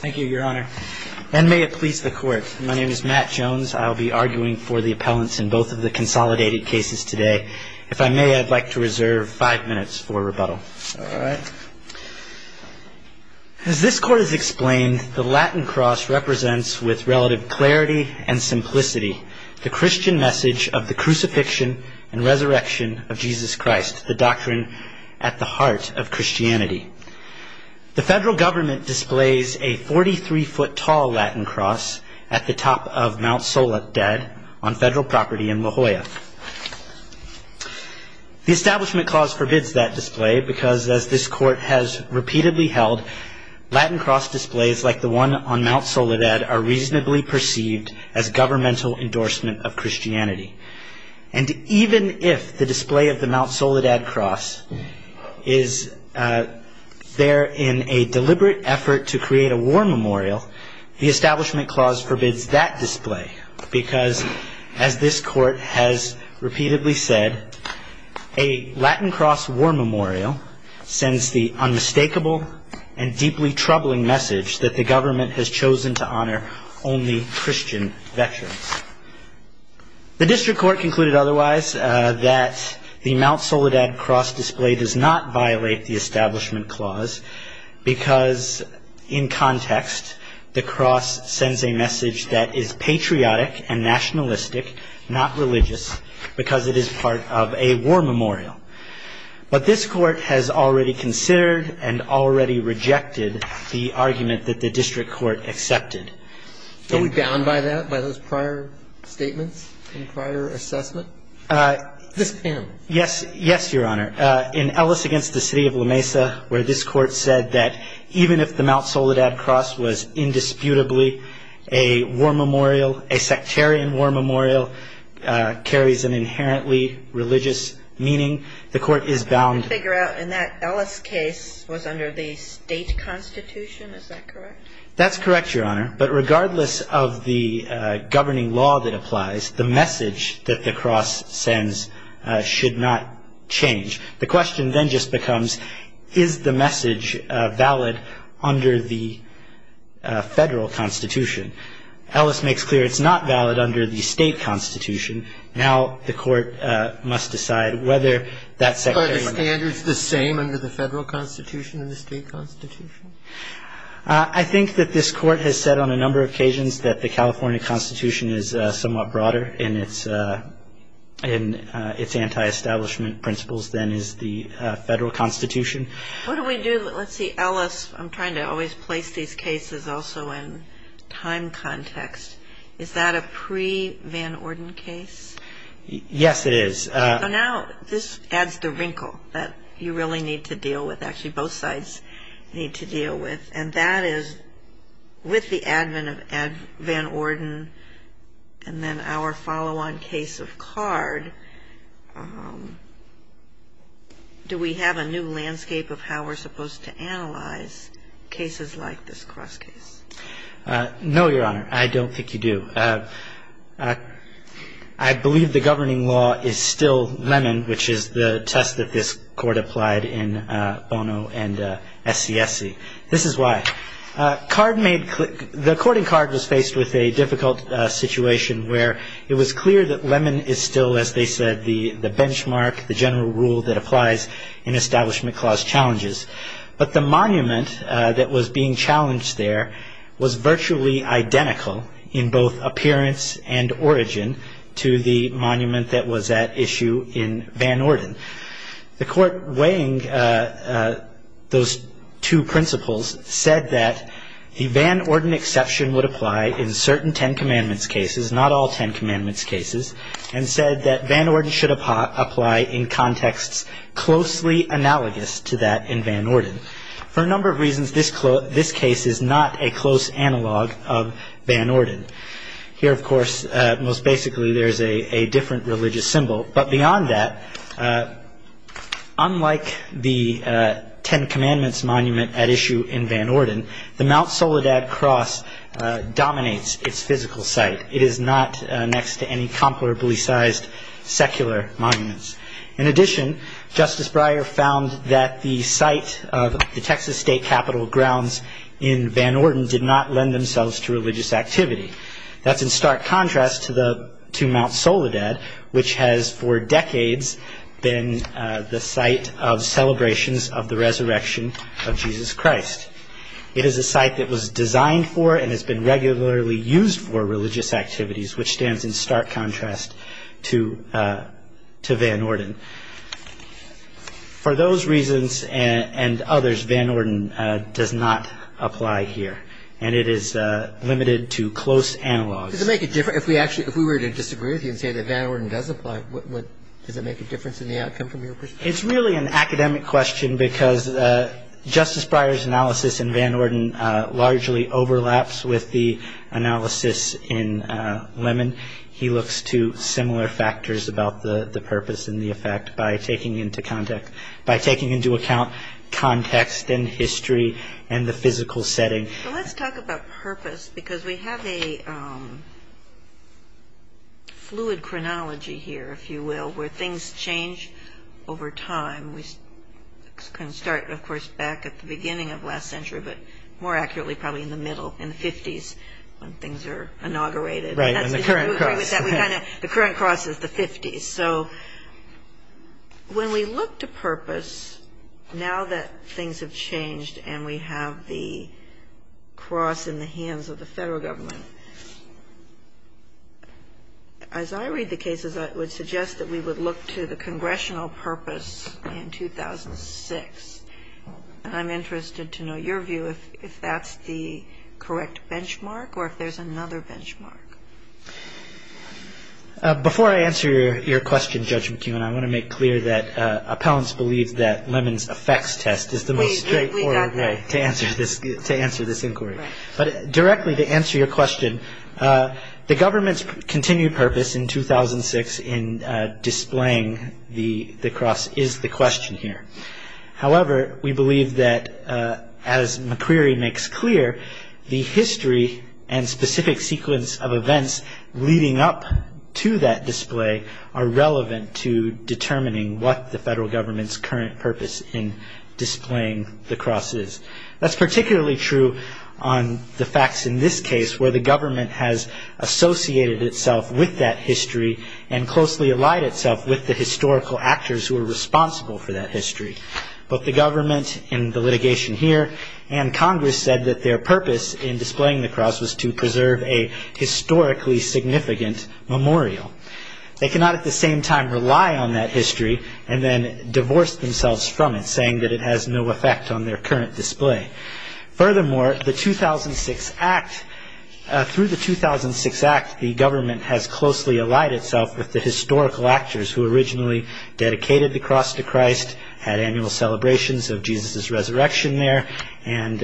Thank you, Your Honor, and may it please the Court. My name is Matt Jones. I will be arguing for the appellants in both of the consolidated cases today. If I may, I'd like to reserve five minutes for rebuttal. All right. As this Court has explained, the Latin Cross represents, with relative clarity and simplicity, the Christian message of the crucifixion and resurrection of Jesus Christ, the doctrine at the heart of Christianity. The federal government displays a 43-foot tall Latin Cross at the top of Mt. Soledad on federal property in La Jolla. The Establishment Clause forbids that display because, as this Court has repeatedly held, Latin Cross displays like the one on Mt. Soledad are reasonably perceived as governmental endorsement of Christianity. And even if the display of the Mt. Soledad Cross is there in a deliberate effort to create a war memorial, the Establishment Clause forbids that display because, as this Court has repeatedly said, a Latin Cross war memorial sends the unmistakable and deeply The District Court concluded otherwise, that the Mt. Soledad Cross display does not violate the Establishment Clause because, in context, the cross sends a message that is patriotic and nationalistic, not religious, because it is part of a war memorial. But this Court has already considered and already rejected the argument that the District Court accepted. Are we bound by that, by those prior statements and prior assessment? Yes, yes, Your Honor. In Ellis against the City of La Mesa, where this Court said that even if the Mt. Soledad Cross was indisputably a war memorial, a sectarian war memorial, carries an inherently religious meaning, the Court is bound To figure out in that Ellis case was under the state constitution, is that correct? That's correct, Your Honor. But regardless of the governing law that applies, the message that the cross sends should not change. The question then just becomes, is the message valid under the federal constitution? Ellis makes clear it's not valid under the state constitution. Now the Court must decide whether that sectarian... Are the standards the same under the federal constitution and the state constitution? I think that this Court has said on a number of occasions that the California constitution is somewhat broader in its anti-establishment principles than is the federal constitution. What do we do? Let's see, Ellis, I'm trying to always place these cases also in time context. Is that a pre-Van Orden case? Yes, it is. Now this adds the wrinkle that you really need to deal with. Actually, both sides need to deal with. And that is with the advent of Van Orden and then our follow-on case of Card, do we have a new landscape of how we're supposed to analyze cases like this cross case? No, Your Honor, I don't think you do. I believe the governing law is still which is the test that this Court applied in Bono and SCSC. This is why. The court in Card was faced with a difficult situation where it was clear that Lemon is still, as they said, the benchmark, the general rule that applies in establishment clause challenges. But the monument that was being challenged there was virtually identical in appearance and origin to the monument that was at issue in Van Orden. The court weighing those two principles said that the Van Orden exception would apply in certain Ten Commandments cases, not all Ten Commandments cases, and said that Van Orden should apply in contexts closely analogous to that in Van Orden. For a number of reasons, this case is not a close analog of Van Orden. Here, of course, most basically there's a different religious symbol. But beyond that, unlike the Ten Commandments monument at issue in Van Orden, the Mount Soledad Cross dominates its physical site. It is not next to any comparably sized secular monuments. In addition, Justice Breyer found that the site of the Texas State Capitol grounds in Van Orden did not lend themselves to religious activity. That's in stark contrast to Mount Soledad, which has for decades been the site of celebrations of the resurrection of Jesus Christ. It is a site that was designed for and has been regularly used for religious activities, which stands in stark contrast to Van Orden. For those reasons and others, Van Orden does not apply here. And it is limited to close analogs. If we were to disagree with you and say that Van Orden does apply, does it make a difference in the outcome from your perspective? It's really an academic question because Justice Breyer's analysis in Van Orden largely overlaps with the analysis in Lemon. He looks to similar factors about the purpose and the context and history and the physical setting. Well, let's talk about purpose because we have a fluid chronology here, if you will, where things change over time. We can start, of course, back at the beginning of last century, but more accurately, probably in the middle, in the 50s, when things are inaugurated. Right, in the current cross. The current cross is the 50s. So when we look to purpose, now that things have changed and we have the cross in the hands of the federal government, as I read the cases, I would suggest that we would look to the congressional purpose in 2006. And I'm interested to know your view if that's the correct benchmark or if there's another benchmark. Before I answer your question, Judge McKeown, I want to make clear that appellants believe that Lemon's effects test is the most straightforward way to answer this inquiry. But directly to answer your question, the government's continued purpose in 2006 in displaying the cross is the question here. However, we believe that, as McCreary makes clear, the history and specific sequence of events leading up to that display are relevant to determining what the federal government's current purpose in displaying the cross is. That's particularly true on the facts in this case, where the government has associated itself with that history and closely allied itself with the historical actors who were responsible for that history. Both the government and the litigation here and Congress said that their purpose in displaying the cross was to preserve a historically significant memorial. They cannot at the same time rely on that history and then divorce themselves from it, saying that it has no effect on their current display. Furthermore, the 2006 Act, through the 2006 Act, the government has closely allied itself with the historical actors who originally dedicated the cross to Christ, had annual celebrations of Jesus' resurrection there, and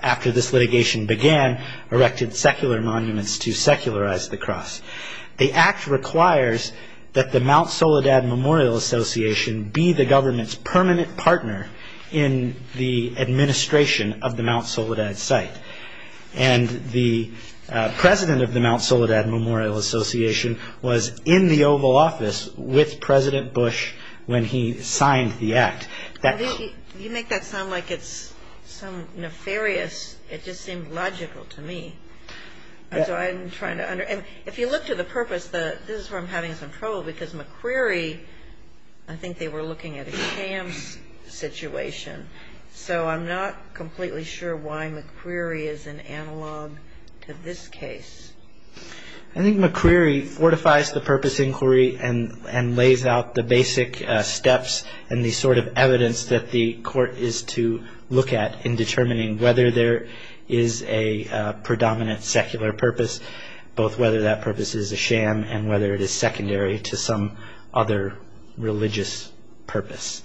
after this litigation began, erected secular monuments to secularize the cross. The Act requires that the Mount Soledad Memorial Association be the government's permanent partner in the administration of the Mount was in the Oval Office with President Bush when he signed the Act. You make that sound like it's some nefarious, it just seemed logical to me. If you look to the purpose, this is where I'm having some trouble because McCreary, I think they were looking at a Kams situation, so I'm not completely sure why McCreary is an analog to this case. I think McCreary fortifies the purpose inquiry and lays out the basic steps and the sort of evidence that the court is to look at in determining whether there is a predominant secular purpose, both whether that purpose is a sham and whether it is secondary to some other religious purpose.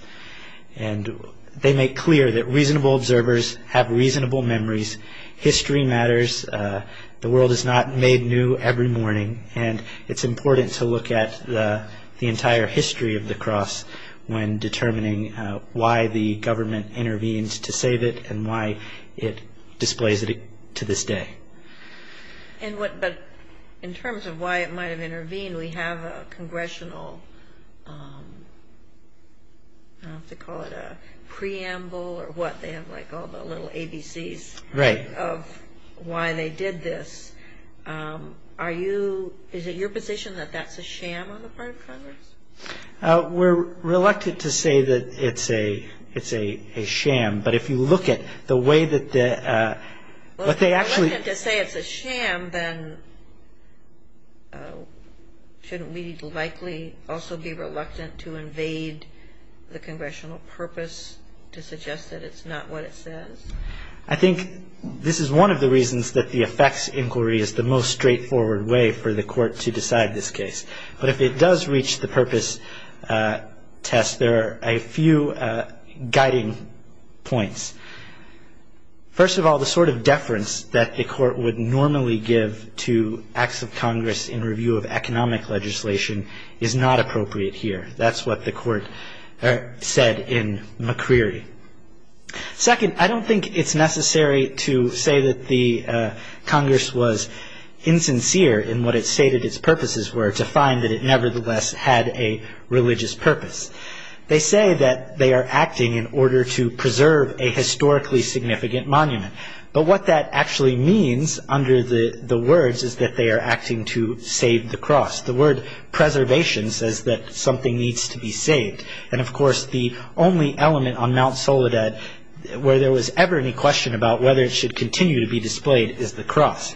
And they make clear that reasonable observers have reasonable memories, history matters, the world is not made new every morning, and it's important to look at the entire history of the cross when determining why the government intervened to save it and why it displays it to this day. But in terms of why it might have intervened, we have a congressional, I don't know if they call it a preamble or what, they have like all the little ABCs of why they did this. Is it your position that that's a sham on the part of Congress? We're reluctant to say that it's a sham, but if you look at the way that... Reluctant to say it's a sham, then shouldn't we likely also be reluctant to invade the congressional purpose to suggest that it's not what it says? I think this is one of the reasons that the effects inquiry is the most straightforward way for the court to decide this case. But if it does reach the purpose test, there are a few guiding points. First of all, the sort of deference that the court would normally give to acts of Congress in review of economic legislation is not appropriate here. That's what the court said in McCreary. Second, I don't think it's necessary to say that Congress was insincere in what it stated its purposes were to find that it nevertheless had a religious purpose. They say that they are acting in order to preserve a historically significant monument. But what that actually means under the words is that they are acting to save the cross. The word preservation says that something needs to be saved. And of course, the only element on is the cross.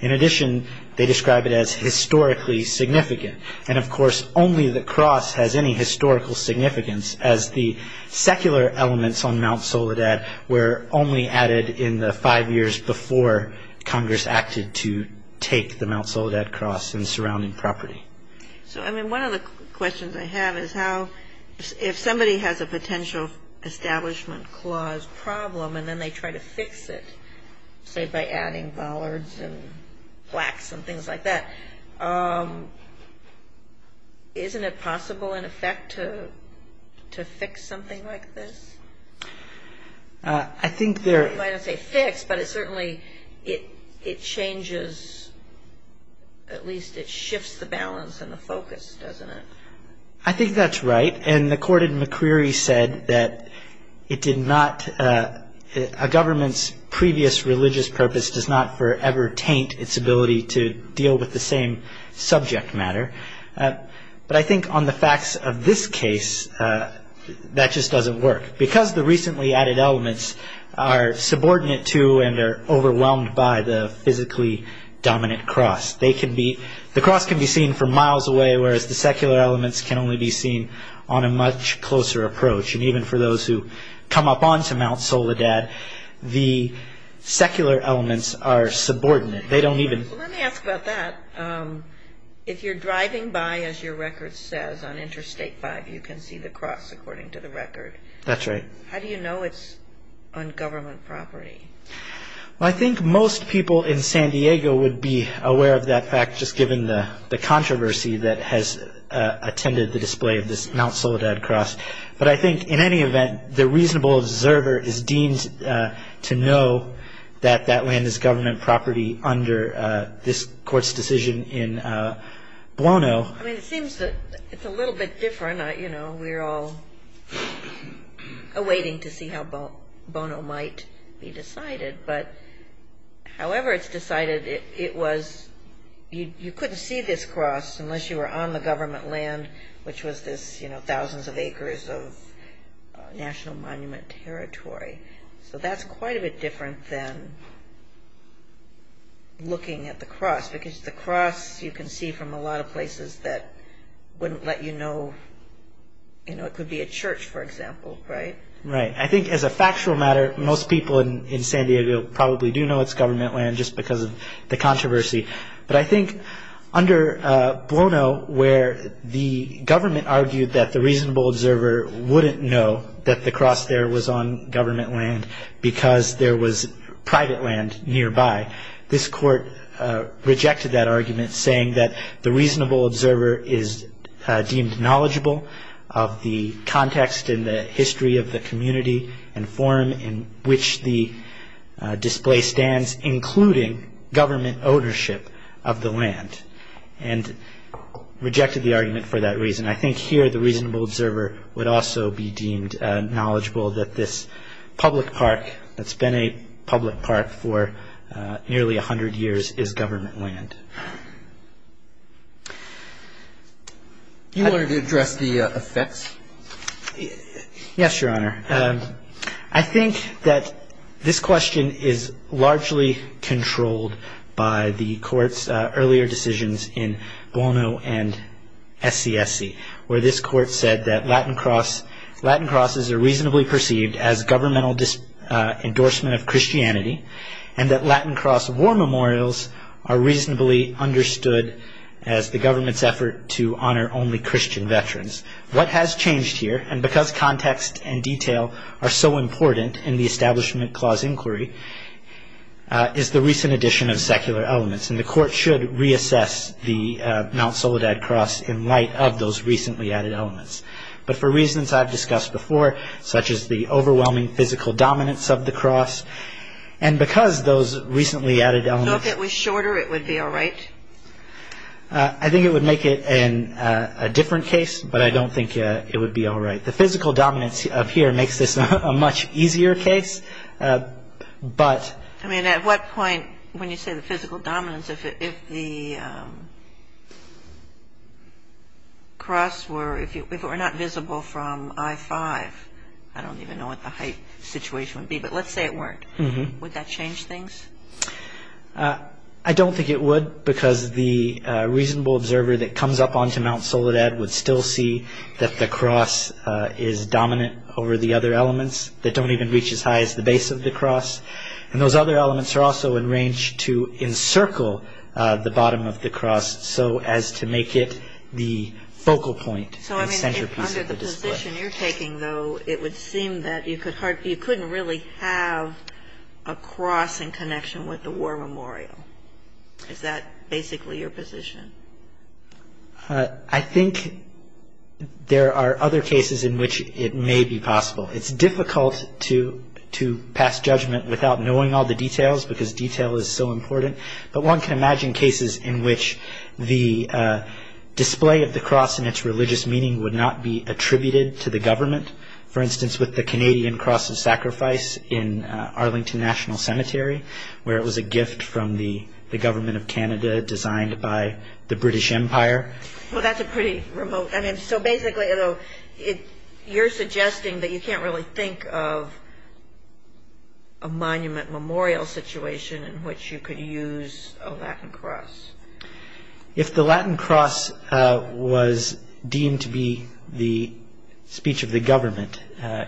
In addition, they describe it as historically significant. And of course, only the cross has any historical significance as the secular elements on Mount Soledad were only added in the five years before Congress acted to take the Mount Soledad cross and surrounding property. So, I mean, one of the questions I have is how... If somebody has a potential establishment clause problem and then they try to fix it, say, by adding bollards and plaques and things like that, isn't it possible in effect to fix something like this? I think there... You might not say fix, but it certainly changes, at least it shifts the balance and the focus, doesn't it? I think that's right. And the court in McCreary said that it did not... A government's previous religious purpose does not forever taint its ability to deal with the same subject matter. But I think on the facts of this case, that just doesn't work. Because the recently added elements are subordinate to and are overwhelmed by the physically dominant cross, they can be... The secular elements can only be seen on a much closer approach. And even for those who come up on to Mount Soledad, the secular elements are subordinate. They don't even... Let me ask about that. If you're driving by, as your record says, on Interstate 5, you can see the cross according to the record. That's right. How do you know it's on government property? I think most people in San Diego would be aware of that fact, just given the controversy that attended the display of this Mount Soledad cross. But I think in any event, the reasonable observer is deemed to know that that land is government property under this court's decision in Bono. I mean, it seems that it's a little bit different. We're all awaiting to see how Bono might be decided. But however it's decided, it was... You couldn't see this cross unless you were on the government land, which was this thousands of acres of National Monument territory. So that's quite a bit different than looking at the cross, because the cross you can see from a lot of places that wouldn't let you know. It could be a church, for example, right? Right. I think as a factual matter, most people in San Diego probably do know it's government land just because of the controversy. But I think under Bono, where the government argued that the reasonable observer wouldn't know that the cross there was on government land because there was private land nearby, this court rejected that argument, saying that the reasonable observer is deemed knowledgeable of the context and the history of the community and form in which the display stands, including government ownership of the land, and rejected the argument for that reason. I think here the reasonable observer would also be deemed knowledgeable that this public park that's been a public park for nearly 100 years is government land. You wanted to address the effects? Yes, Your Honor. I think that this question is largely controlled by the court's earlier decisions in Bono and SCSC, where this court said that Latin crosses are reasonably perceived as governmental endorsement of Christianity, and that Latin cross war memorials are reasonably understood as the government's effort to honor only Christian veterans. What has changed here, and because context and detail are so important in the Establishment Clause inquiry, is the recent addition of secular elements. And the court should reassess the Mount Soledad cross in light of those recently added elements. But for reasons I've discussed before, such as the overwhelming physical dominance of the cross, and because those recently added elements... I think it would make it a different case, but I don't think it would be all right. The physical dominance up here makes this a much easier case, but... I mean, at what point, when you say the physical dominance, if the cross were... if it were not visible from I-5, I don't even know what the height situation would be, but let's say it weren't. Would that change things? I don't think it would, because the reasonable observer that comes up onto Mount Soledad would still see that the cross is dominant over the other elements that don't even reach as high as the base of the cross. And those other elements are also in range to encircle the bottom of the cross so as to make it the focal point and centerpiece of the display. So, I mean, under that, you couldn't really have a cross in connection with the war memorial. Is that basically your position? I think there are other cases in which it may be possible. It's difficult to pass judgment without knowing all the details, because detail is so important, but one can imagine cases in which the display of the cross and its religious meaning would not be attributed to the government. For example, the Canadian Cross of Sacrifice in Arlington National Cemetery, where it was a gift from the government of Canada designed by the British Empire. Well, that's a pretty remote... I mean, so basically, you're suggesting that you can't really think of a monument memorial situation in which you could use a Latin cross. If the Latin cross was deemed to be the speech of the government,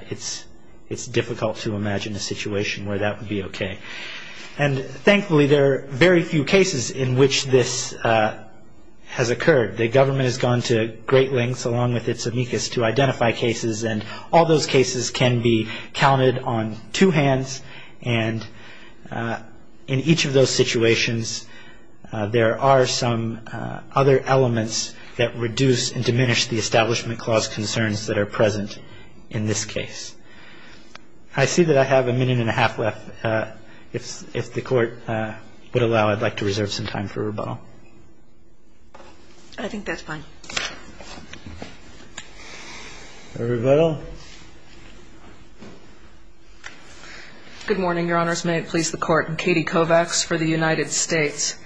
it's difficult to imagine a situation where that would be okay. And thankfully, there are very few cases in which this has occurred. The government has gone to great lengths, along with its amicus, to identify cases, and all those cases can be counted on two hands. And in each of those situations, there are some other elements that reduce and diminish the Establishment Clause concerns that are present in this case. I see that I have a minute and a half left. If the Court would allow, I'd like to reserve some time for rebuttal. I think that's fine. Rebuttal. Good morning, Your Honors. May it please the Court. Katie Kovacs for the United States.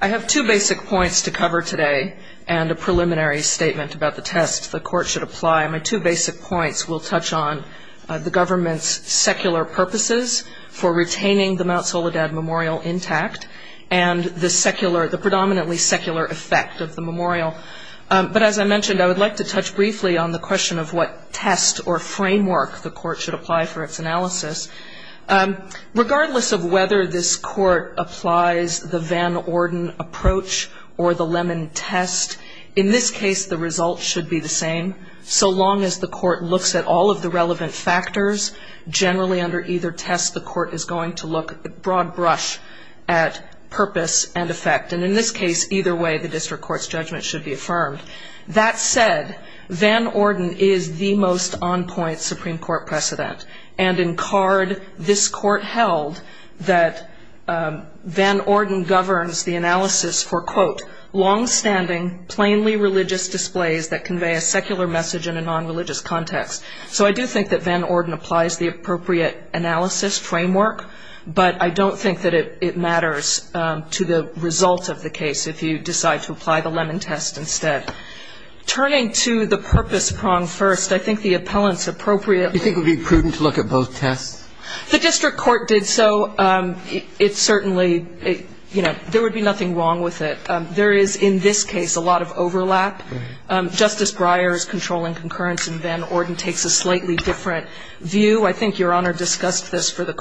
I have two basic points to cover today and a preliminary statement about the test the Court should apply. My two basic points will touch on the government's secular purposes for retaining the Mount Soledad Memorial intact and the secular, the predominantly secular effect of the memorial. But as I mentioned, I would like to touch briefly on the question of what test or framework the Court should apply for its analysis. Regardless of whether this Court applies the Van Orden approach or the Lemon test, in this case, the result should be the same. So long as the Court looks at all of the relevant factors, generally under either test, the Court is going to look at broad brush at purpose and effect. And in this case, either way, the District Court's judgment should be affirmed. That said, Van Orden is the most on-point Supreme Court precedent. And in card, this Court held that Van Orden governs the analysis for, quote, long-standing, plainly religious displays that convey a secular message in a non-religious context. So I do think that Van Orden applies the appropriate analysis framework, but I don't think that it matters to the result of the case if you decide to apply the Lemon test instead. Turning to the purpose prong first, I think the appellant's appropriate. Do you think it would be prudent to look at both tests? The District Court did so. It certainly, you know, there would be nothing wrong with it. There is, in this case, a lot of overlap. Justice Breyer's controlling concurrence in Van Orden takes a slightly different view. I think Your Honor discussed this for the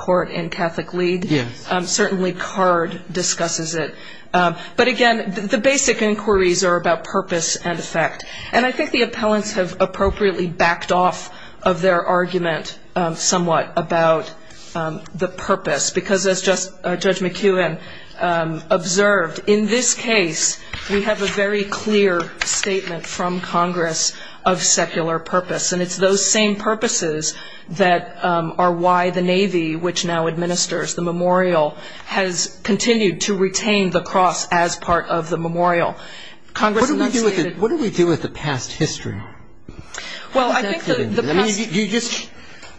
certainly card discusses it. But again, the basic inquiries are about purpose and effect. And I think the appellants have appropriately backed off of their argument somewhat about the purpose, because as Judge McEwen observed, in this case, we have a very clear statement from Congress of secular purpose. And it's those same purposes that are why the Navy, which now has continued to retain the cross as part of the memorial. What do we do with the past history? Well, I think the past... Do you just,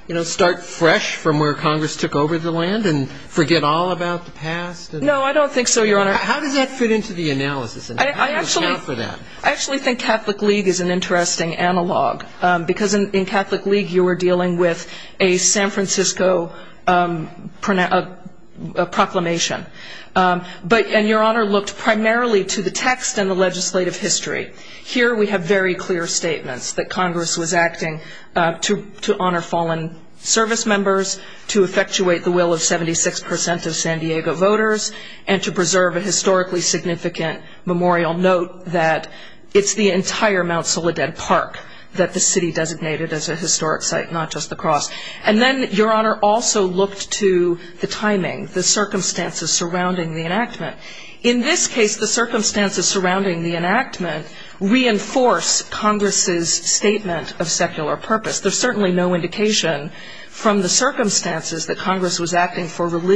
you know, start fresh from where Congress took over the land and forget all about the past? No, I don't think so, Your Honor. How does that fit into the analysis? And how do you account for that? I actually think Catholic League is an interesting analog, because in Catholic League, you were dealing with a San Francisco proclamation. And Your Honor looked primarily to the text and the legislative history. Here we have very clear statements that Congress was acting to honor fallen service members, to effectuate the will of 76 percent of San Diego voters, and to preserve a historically significant memorial. Note that it's the entire Mount Soledad Park that the city designated as a historic site, not just the cross. And then Your Honor also looked to the timing, the circumstances surrounding the enactment. In this case, the circumstances surrounding the enactment reinforce Congress's statement of secular purpose. There's certainly no indication from the circumstances that Congress was acting for 40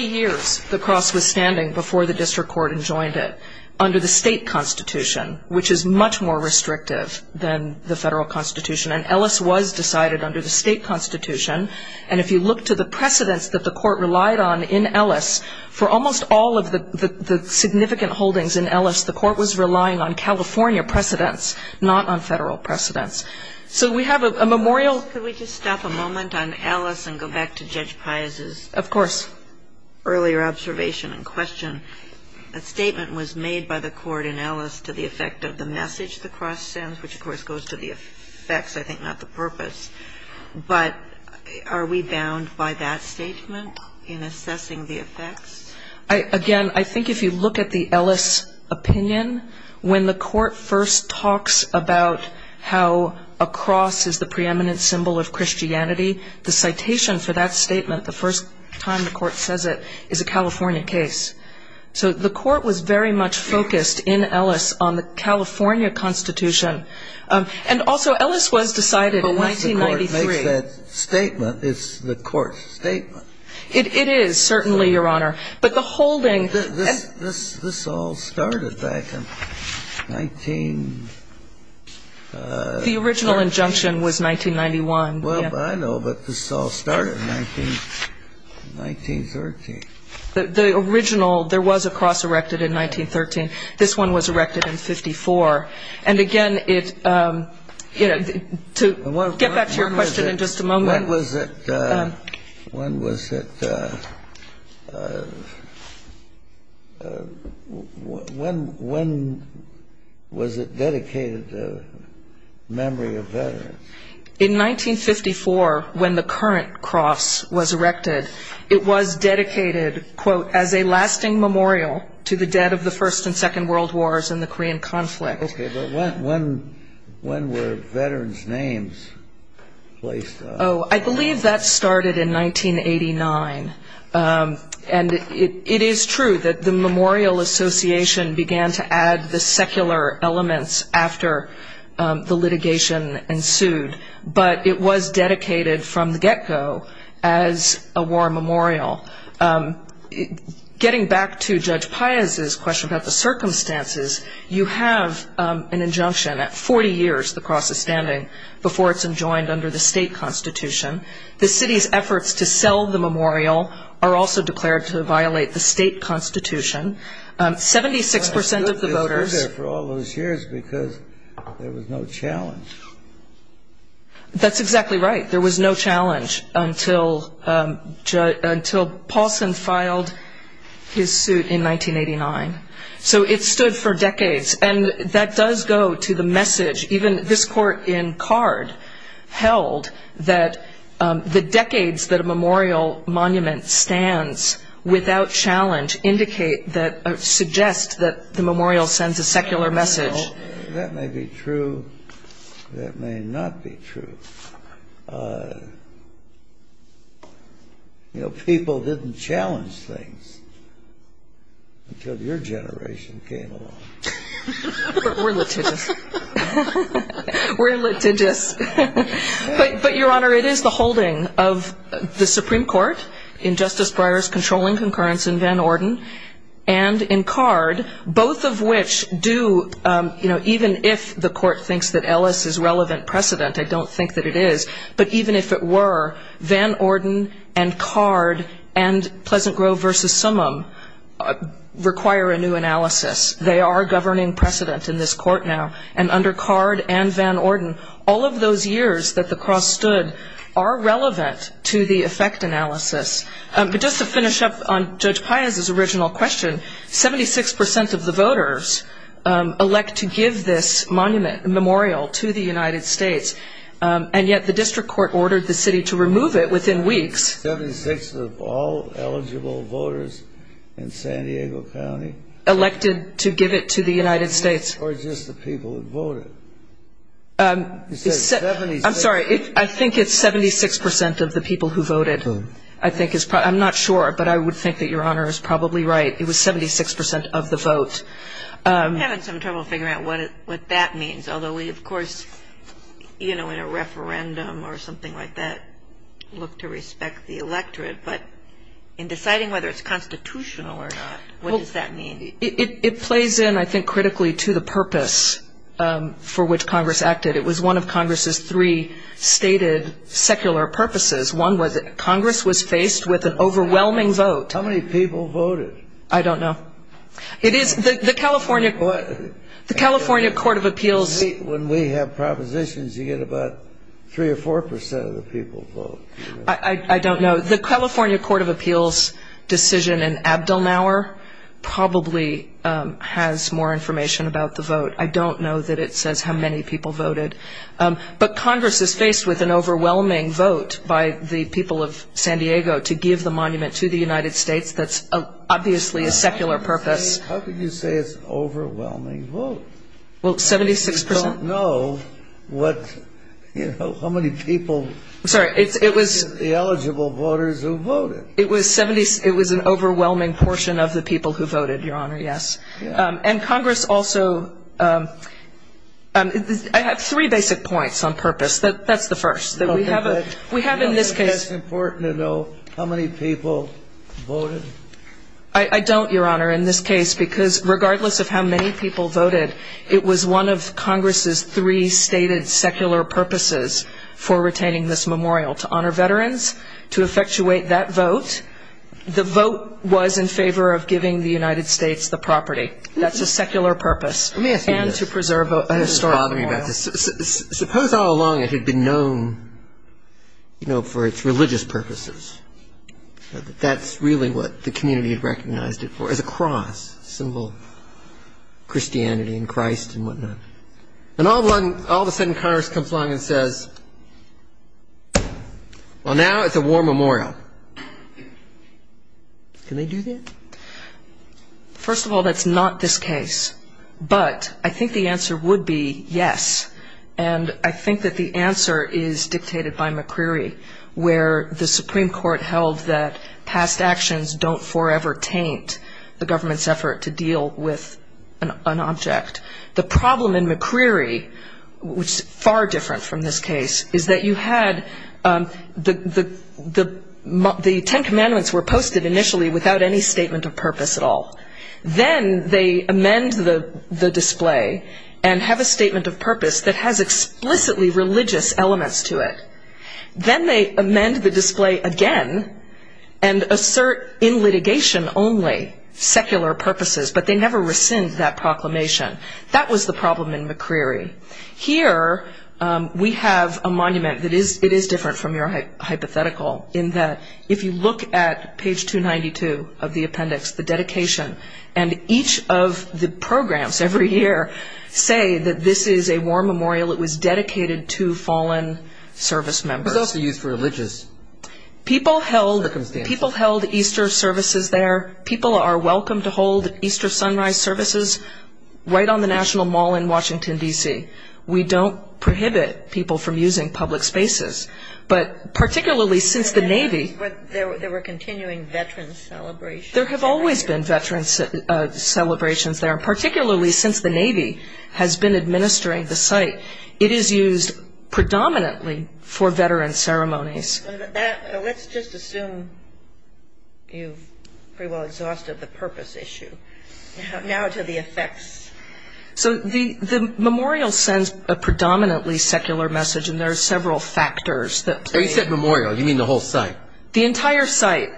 years the cross was standing before the district court and joined it under the state constitution, which is much more restrictive than the federal constitution. And Ellis was decided under the state constitution. And if you look to the precedents that the court relied on in Ellis, for almost all of the significant holdings in Ellis, the court was relying on California precedents, not on federal precedents. So we have a memorial Could we just stop a moment on Ellis and go back to Judge Pius's? Of course. Earlier observation and question, a statement was made by the court in Ellis to the effect of the message the cross sends, which of course goes to the effects, I think not the purpose. But are we bound by that statement in assessing the effects? Again, I think if you look at the Ellis opinion, when the court first talks about how a cross is the preeminent symbol of Christianity, the citation for that statement, the first time the court says it, is a California case. So the court was very much focused in Ellis on the California constitution. And also Ellis was decided in 1993. But once the court makes that statement, it's the court's statement. It is, certainly, Your Honor. But the holding This all started back in 19 The original injunction was 1991. Well, I know, but this all started in 1913. The original, there was a cross erected in 1913. This one was erected in 54. And again, it's, you know, to get back to your question in just a moment. When was it dedicated to memory of veterans? In 1954, when the current cross was erected, it was dedicated, quote, as a lasting memorial to the dead of the First and Second World Wars and the Korean conflict. Okay, but when were veterans' names placed on it? I believe that started in 1989. And it is true that the Memorial Association began to add the secular elements after the litigation ensued. But it was dedicated from the get-go as a war memorial. Getting back to Judge Pius's question about the circumstances, you have an injunction at 40 years the cross is standing before it's enjoined under the state constitution. The city's efforts to sell the memorial are also declared to violate the state constitution. 76 percent of the voters They stood there for all those years because there was no challenge. That's exactly right. There was no challenge until Paulson filed his suit in 1989. So it stood for decades. And that does go to the message even this court in Card held that the decades that a memorial monument stands without challenge indicate that, suggest that the memorial sends a secular message. That may be true. That may not be true. But, you know, people didn't challenge things until your generation came along. We're litigious. We're litigious. But, Your Honor, it is the holding of the Supreme Court in Justice Breyer's controlling concurrence in Van Orden and in Card, both of which do, you know, even if the court thinks that Ellis is relevant precedent, I don't think that it is. But even if it were, Van Orden and Card and Pleasant Grove versus Summum require a new analysis. They are governing precedent in this court now. And under Card and Van Orden, all of those years that the cross stood are relevant to the effect analysis. But just to finish up on Judge Pius's original question, 76% of the voters elect to give this monument memorial to the United States. And yet the district court ordered the city to remove it within weeks. 76% of all eligible voters in San Diego County. Elected to give it to the United States. Or just the people who voted. I'm sorry, I think it's 76% of the people who voted. I'm not sure, but I would think that Your Honor is probably right. It was 76% of the vote. I'm having some trouble figuring out what that means. Although we, of course, you know, in a referendum or something like that, look to respect the electorate. But in deciding whether it's constitutional or not, what does that mean? It plays in, I think, critically to the purpose for which Congress acted. It was one of Congress's three stated secular purposes. One was that Congress was faced with an overwhelming vote. How many people voted? I don't know. It is, the California, the California Court of Appeals. When we have propositions, you get about three or 4% of the people vote. I don't know. The California Court of Appeals decision in Abdelnour probably has more information about the vote. I don't know that it says how many people voted. But Congress is faced with an overwhelming vote by the people of San Diego to give the monument to the United States. That's obviously a secular purpose. How could you say it's overwhelming vote? Well, 76%. I don't know what, you know, how many people. Sorry, it was. The eligible voters who voted. It was an overwhelming portion of the people who voted, Your Honor, yes. And Congress also, I have three basic points on purpose. That's the first. We have in this case. It's important to know how many people voted. I don't, Your Honor, in this case, because regardless of how many people voted, it was one of Congress's three stated secular purposes for retaining this memorial. To honor veterans, to effectuate that vote. The vote was in favor of giving the United States the property. That's a secular purpose. Let me ask you this. And to preserve a historical memorial. Suppose all along it had been known, you know, for its religious purposes. That's really what the community had recognized it for. As a cross, symbol of Christianity and Christ and whatnot. And all of a sudden, Congress comes along and says, well, now it's a war memorial. Can they do that? First of all, that's not this case. But I think the answer would be yes. And I think that the answer is dictated by McCreery. Where the Supreme Court held that past actions don't forever taint the government's effort to deal with an object. The problem in McCreery, which is far different from this case, is that you had the Ten Commandments were posted initially without any statement of purpose at all. Then they amend the display and have a statement of purpose that has explicitly religious elements to it. Then they amend the display again and assert in litigation only secular purposes. But they never rescind that proclamation. That was the problem in McCreery. Here we have a monument that is different from your hypothetical. If you look at page 292 of the appendix, the dedication, and each of the programs every year say that this is a war memorial. It was dedicated to fallen service members. It was also used for religious circumstances. People held Easter services there. People are welcome to hold Easter sunrise services right on the National Mall in Washington, D.C. We don't prohibit people from using public spaces. But particularly since the Navy... But there were continuing veterans' celebrations. There have always been veterans' celebrations there. Particularly since the Navy has been administering the site. It is used predominantly for veterans' ceremonies. Let's just assume you've pretty well exhausted the purpose issue. Now to the effects. So the memorial sends a predominantly secular message. And there are several factors. So you said memorial. You mean the whole site. The entire site.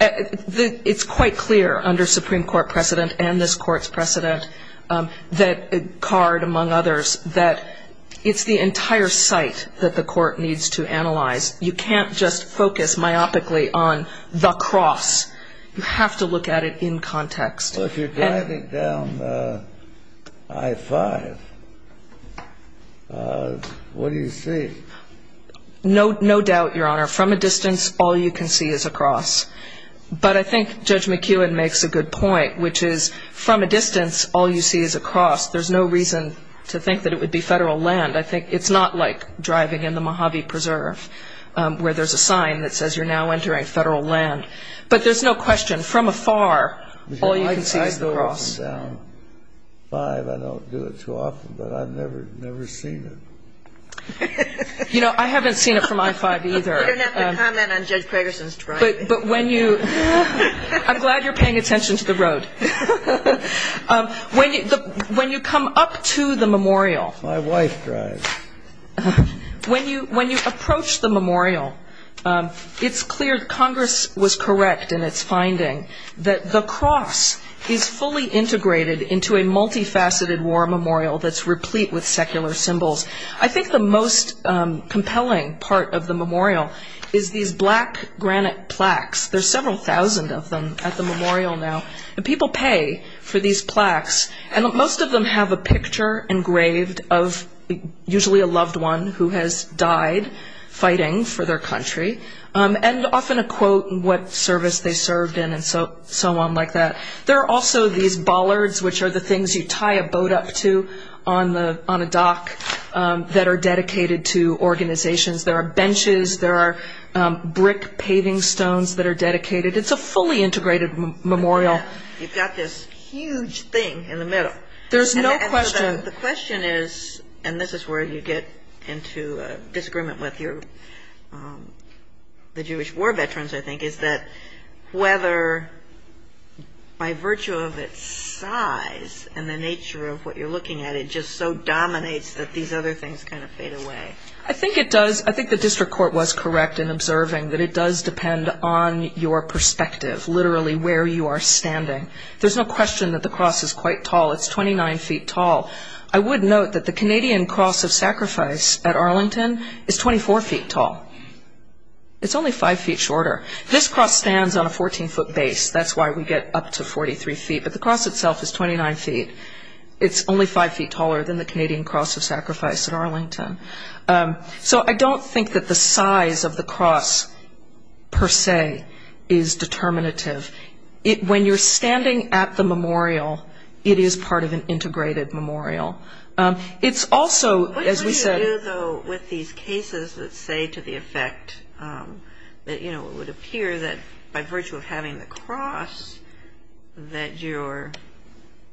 It's quite clear under Supreme Court precedent and this Court's precedent, that Card, among others, that it's the entire site that the Court needs to analyze. You can't just focus myopically on the cross. You have to look at it in context. Well, if you're driving down I-5, what do you see? No doubt, Your Honor. From a distance, all you can see is a cross. But I think Judge McKeown makes a good point, which is from a distance, all you see is a cross. There's no reason to think that it would be Federal land. I think it's not like driving in the Mojave Preserve, where there's a sign that says you're now entering Federal land. But there's no question. From afar, all you can see is the cross. If I drive down I-5, I don't do it too often, but I've never seen it. You know, I haven't seen it from I-5 either. You don't have to comment on Judge Craigerson's driving. But when you – I'm glad you're paying attention to the road. When you come up to the memorial. My wife drives. When you approach the memorial, it's clear Congress was correct in its finding. The cross is fully integrated into a multifaceted war memorial that's replete with secular symbols. I think the most compelling part of the memorial is these black granite plaques. There's several thousand of them at the memorial now. People pay for these plaques. And most of them have a picture engraved of usually a loved one who has died fighting for their country. And often a quote of what service they served in and so on like that. There are also these bollards, which are the things you tie a boat up to on a dock, that are dedicated to organizations. There are benches. There are brick paving stones that are dedicated. It's a fully integrated memorial. You've got this huge thing in the middle. There's no question. The question is, and this is where you get into a disagreement with the Jewish war veterans, I think, is that whether by virtue of its size and the nature of what you're looking at, it just so dominates that these other things kind of fade away. I think it does. I think the district court was correct in observing that it does depend on your perspective, literally where you are standing. There's no question that the cross is quite tall. It's 29 feet tall. I would note that the Canadian Cross of Sacrifice at Arlington is 24 feet tall. It's only five feet shorter. This cross stands on a 14-foot base. That's why we get up to 43 feet, but the cross itself is 29 feet. It's only five feet taller than the Canadian Cross of Sacrifice at Arlington. So I don't think that the size of the cross per se is determinative. When you're standing at the memorial, it is part of an integrated memorial. It's also, as we said- What do you do, though, with these cases that say to the effect that it would appear that by virtue of having the cross that you're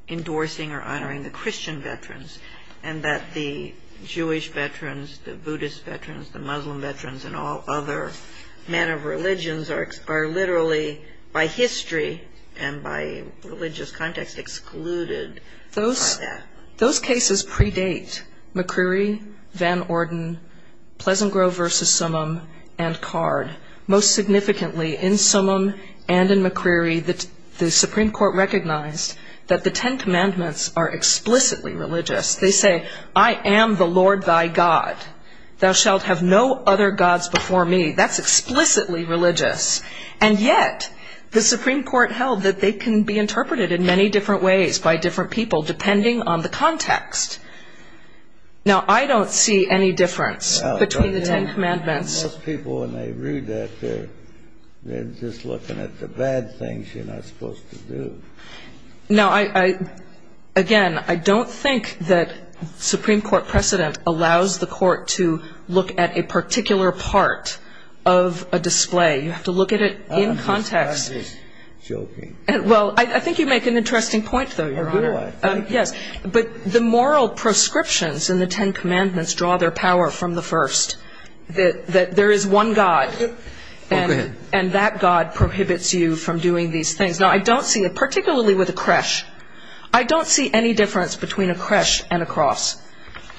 endorsing or honoring the Christian veterans and that the Jewish veterans, the Buddhist veterans, the Muslim veterans, and all other men of religions are literally, by history and by religious context, excluded? Those cases predate McCreary, Van Orden, Pleasant Grove v. Summum, and Card. Most significantly, in Summum and in McCreary, the Supreme Court recognized that the Ten Commandments are explicitly religious. They say, I am the Lord thy God. Thou shalt have no other gods before me. That's explicitly religious. And yet, the Supreme Court held that they can be interpreted in many different ways by different people depending on the context. Now, I don't see any difference between the Ten Commandments- Most people, when they read that, they're just looking at the bad things you're not supposed to do. Now, again, I don't think that Supreme Court precedent allows the Court to look at a particular part of a display. You have to look at it in context. I'm just joking. Well, I think you make an interesting point, though, Your Honor. I do? Yes. But the moral proscriptions in the Ten Commandments draw their power from the first, that there is one God and that God prohibits you from doing these things. Particularly with a creche, I don't see any difference between a creche and a cross.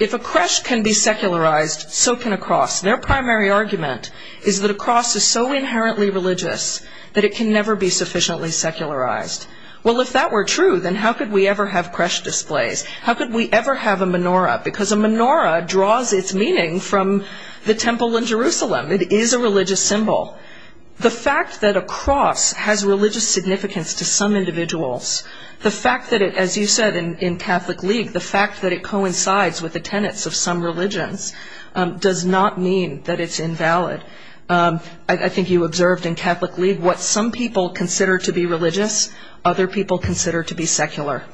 If a creche can be secularized, so can a cross. Their primary argument is that a cross is so inherently religious that it can never be sufficiently secularized. Well, if that were true, then how could we ever have creche displays? How could we ever have a menorah? Because a menorah draws its meaning from the Temple in Jerusalem. It is a religious symbol. The fact that a cross has religious significance to some individuals, the fact that it, as you said in Catholic League, the fact that it coincides with the tenets of some religions does not mean that it's invalid. I think you observed in Catholic League what some people consider to be religious, other people consider to be secular.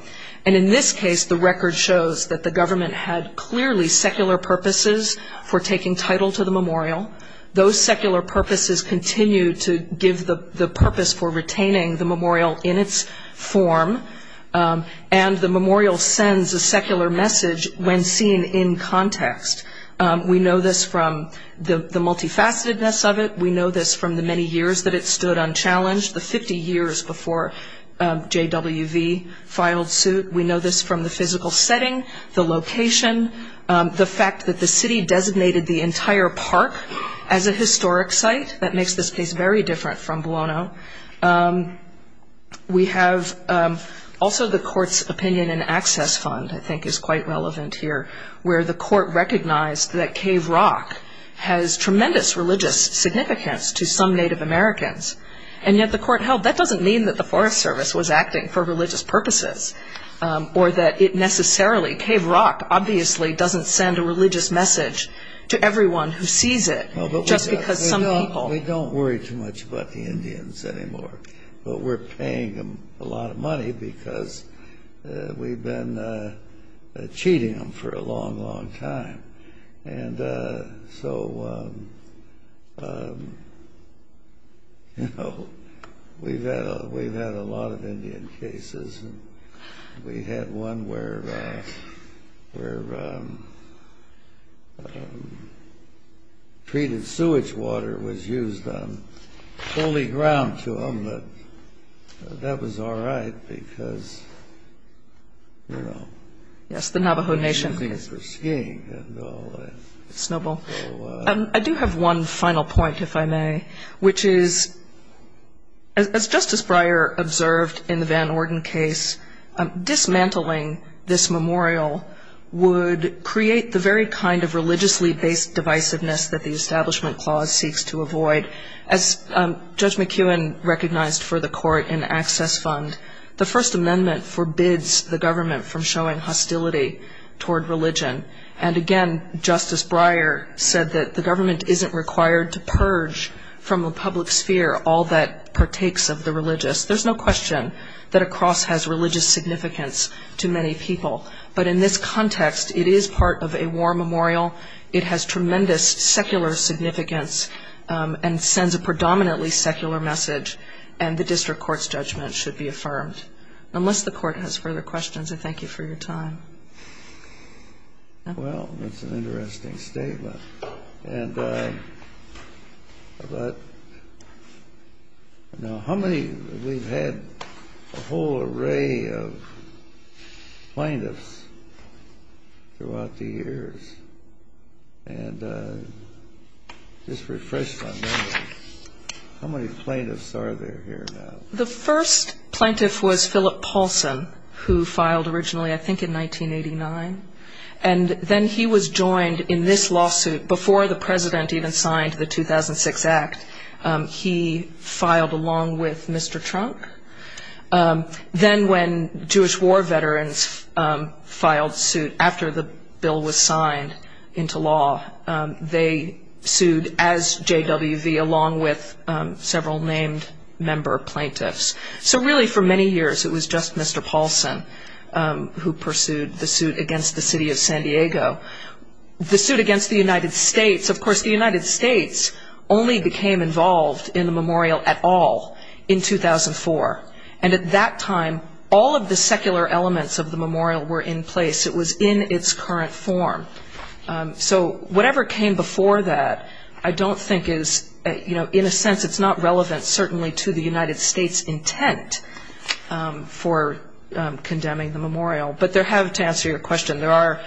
And in this case, the record shows that the government had clearly secular purposes for taking title to the memorial. Those secular purposes continue to give the purpose for retaining the memorial in its form. And the memorial sends a secular message when seen in context. We know this from the multifacetedness of it. We know this from the many years that it stood unchallenged, the 50 years before JWV filed suit. We know this from the physical setting, the location, the fact that the city designated the entire park as a historic site. That makes this case very different from Buono. We have also the court's opinion and access fund, I think is quite relevant here, where the court recognized that Cave Rock has tremendous religious significance to some Native Americans. And yet the court held that doesn't mean that the Forest Service was acting for religious purposes or that it necessarily, Cave Rock obviously doesn't send a religious message to everyone who sees it just because some people. We don't worry too much about the Indians anymore. But we're paying them a lot of money because we've been cheating them for a long, long time. And so, you know, we've had a lot of Indian cases. We had one where treated sewage water was used on holy ground to them. But that was all right because, you know... Yes, the Navajo Nation. I do have one final point, if I may. Which is, as Justice Breyer observed in the Van Orden case, dismantling this memorial would create the very kind of religiously-based divisiveness that the Establishment Clause seeks to avoid. As Judge McKeown recognized for the court in access fund, the First Amendment forbids the government from showing hostility toward religion. And again, Justice Breyer said that the government isn't required to purge from the public sphere all that partakes of the religious. There's no question that a cross has religious significance to many people. But in this context, it is part of a war memorial. It has tremendous secular significance and sends a predominantly secular message. And the district court's judgment should be affirmed. Unless the court has further questions, I thank you for your time. Well, that's an interesting statement. Now, how many... We've had a whole array of plaintiffs throughout the years. And just refresh my memory. How many plaintiffs are there here now? The first plaintiff was Philip Paulson, who filed originally, I think, in 1989. And then he was joined in this lawsuit before the president even signed the 2006 Act. He filed along with Mr. Trump. Then when Jewish war veterans filed suit after the bill was signed into law, they sued as JWV along with several named member plaintiffs. So really, for many years, it was just Mr. Paulson who pursued the suit against the city of San Diego. The suit against the United States... Of course, the United States only became involved in the memorial at all in 2004. And at that time, all of the secular elements of the memorial were in place. It was in its current form. So whatever came before that, I don't think is... In a sense, it's not relevant, certainly, to the United States' intent for condemning the memorial. But to answer your question, there are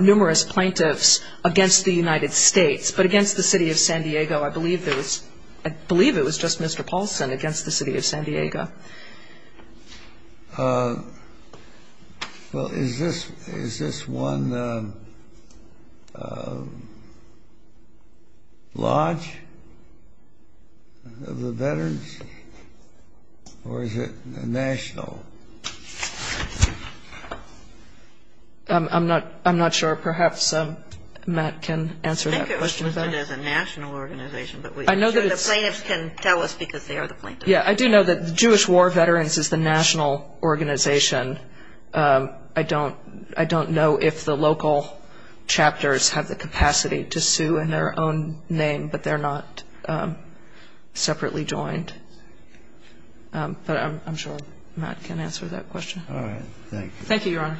numerous plaintiffs against the United States. But against the city of San Diego, I believe it was just Mr. Paulson against the city of San Diego. Well, is this one lodge of the veterans, or is it a national? I'm not sure. Perhaps Matt can answer that question better. I think it was listed as a national organization. But I'm sure the plaintiffs can tell us because they are the plaintiffs. I do know that the Jewish War Veterans is the national organization. I don't know if the local chapters have the capacity to sue in their own name, but they're not separately joined. But I'm sure Matt can answer that question. All right. Thank you. Thank you, Your Honor.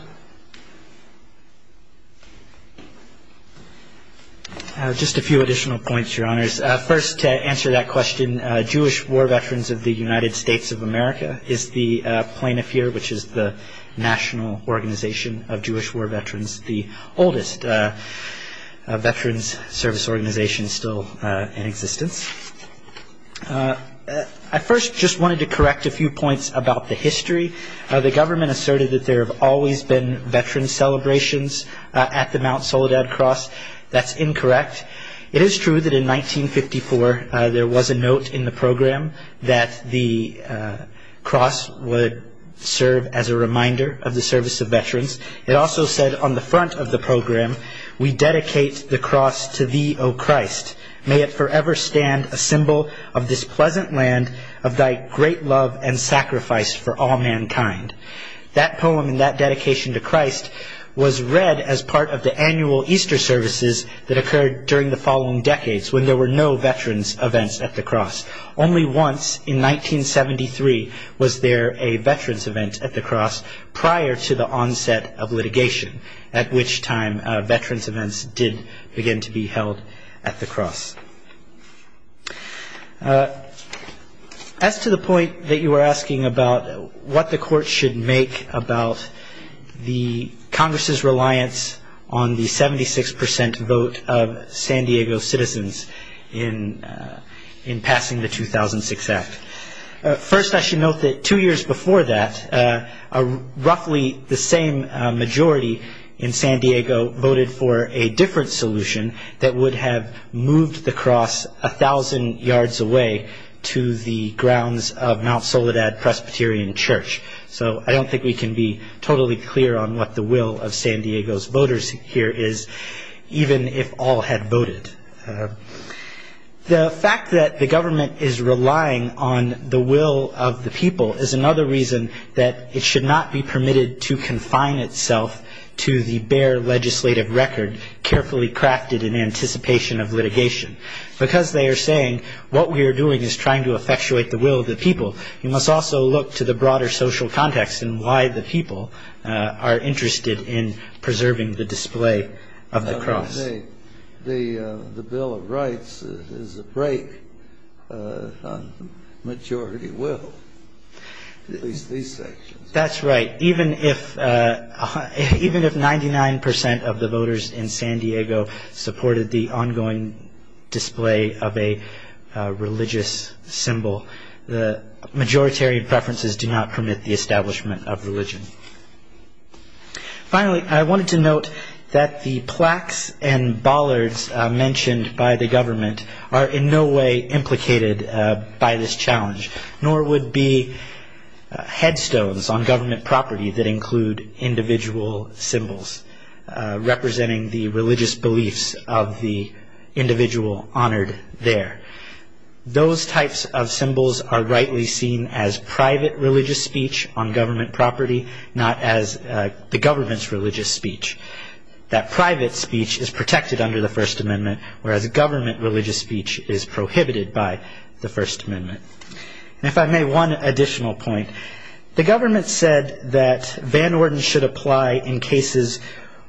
Just a few additional points, Your Honors. First, to answer that question, Jewish War Veterans of the United States of America is the plaintiff here, which is the national organization of Jewish War Veterans, the oldest veterans service organization still in existence. I first just wanted to correct a few points about the history. The government asserted that there have always been veteran celebrations at the Mount Soledad Cross. That's incorrect. It is true that in 1954, there was a note in the program that the cross would serve as a reminder of the service of veterans. It also said on the front of the program, we dedicate the cross to thee, O Christ. May it forever stand a symbol of this pleasant land of thy great love and sacrifice for all mankind. That poem and that dedication to Christ was read as part of the annual Easter services that occurred during the following decades when there were no veterans events at the cross. Only once in 1973 was there a veterans event at the cross prior to the onset of litigation, at which time veterans events did begin to be held at the cross. As to the point that you were asking about what the court should make about the Congress's reliance on the 76% vote of San Diego citizens in passing the 2006 act. First, I should note that two years before that, roughly the same majority in San Diego voted for a different solution that would have moved the cross a thousand yards away to the grounds of Mount Soledad Presbyterian Church. I don't think we can be totally clear on what the will of San Diego's voters here is, even if all had voted. The fact that the government is relying on the will of the people is another reason that it should not be permitted to confine itself to the bare legislative record carefully crafted in anticipation of litigation. Because they are saying what we are doing is trying to effectuate the will of the people, you must also look to the broader social context and why the people are interested in preserving the display of the cross. The Bill of Rights is a break on majority will, at least these sections. That's right, even if 99% of the voters in San Diego supported the ongoing display of a religious symbol, the majoritarian preferences do not permit the establishment of religion. Finally, I wanted to note that the plaques and bollards mentioned by the government are in no way implicated by this challenge, nor would be headstones on government property that include individual symbols representing the religious beliefs of the individual honored there. Those types of symbols are rightly seen as private religious speech on government property, not as the government's religious speech. That private speech is protected under the First Amendment, whereas government religious speech is prohibited by the First Amendment. If I may, one additional point. The government said that Van Orden should apply in cases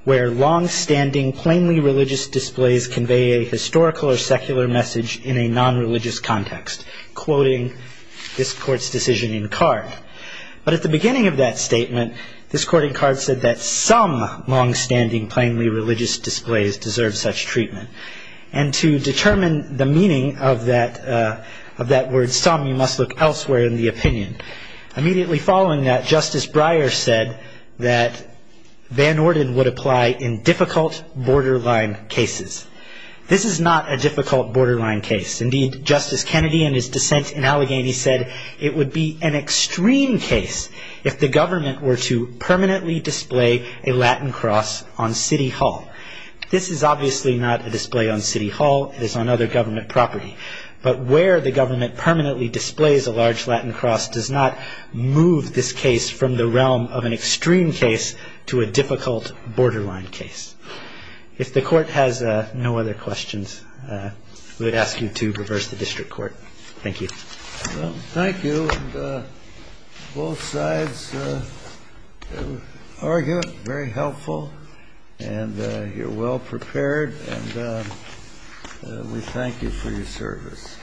where long-standing, plainly religious displays convey a historical or secular message in a non-religious context, quoting this Court's decision in Card. But at the beginning of that statement, this Court in Card said that some long-standing, plainly religious displays deserve such treatment. And to determine the meaning of that word some, you must look elsewhere in the opinion. Immediately following that, Justice Breyer said that Van Orden would apply in difficult, borderline cases. This is not a difficult, borderline case. Indeed, Justice Kennedy, in his dissent in Allegheny, said it would be an extreme case if the government were to permanently display a Latin cross on City Hall. This is obviously not a display on City Hall. It is on other government property. But where the government permanently displays a large Latin cross does not move this case from the realm of an extreme case to a difficult, borderline case. If the Court has no other questions, we would ask you to reverse the district court. Thank you. Thank you. Both sides argue. Very helpful. And you're well prepared. And we thank you for your service.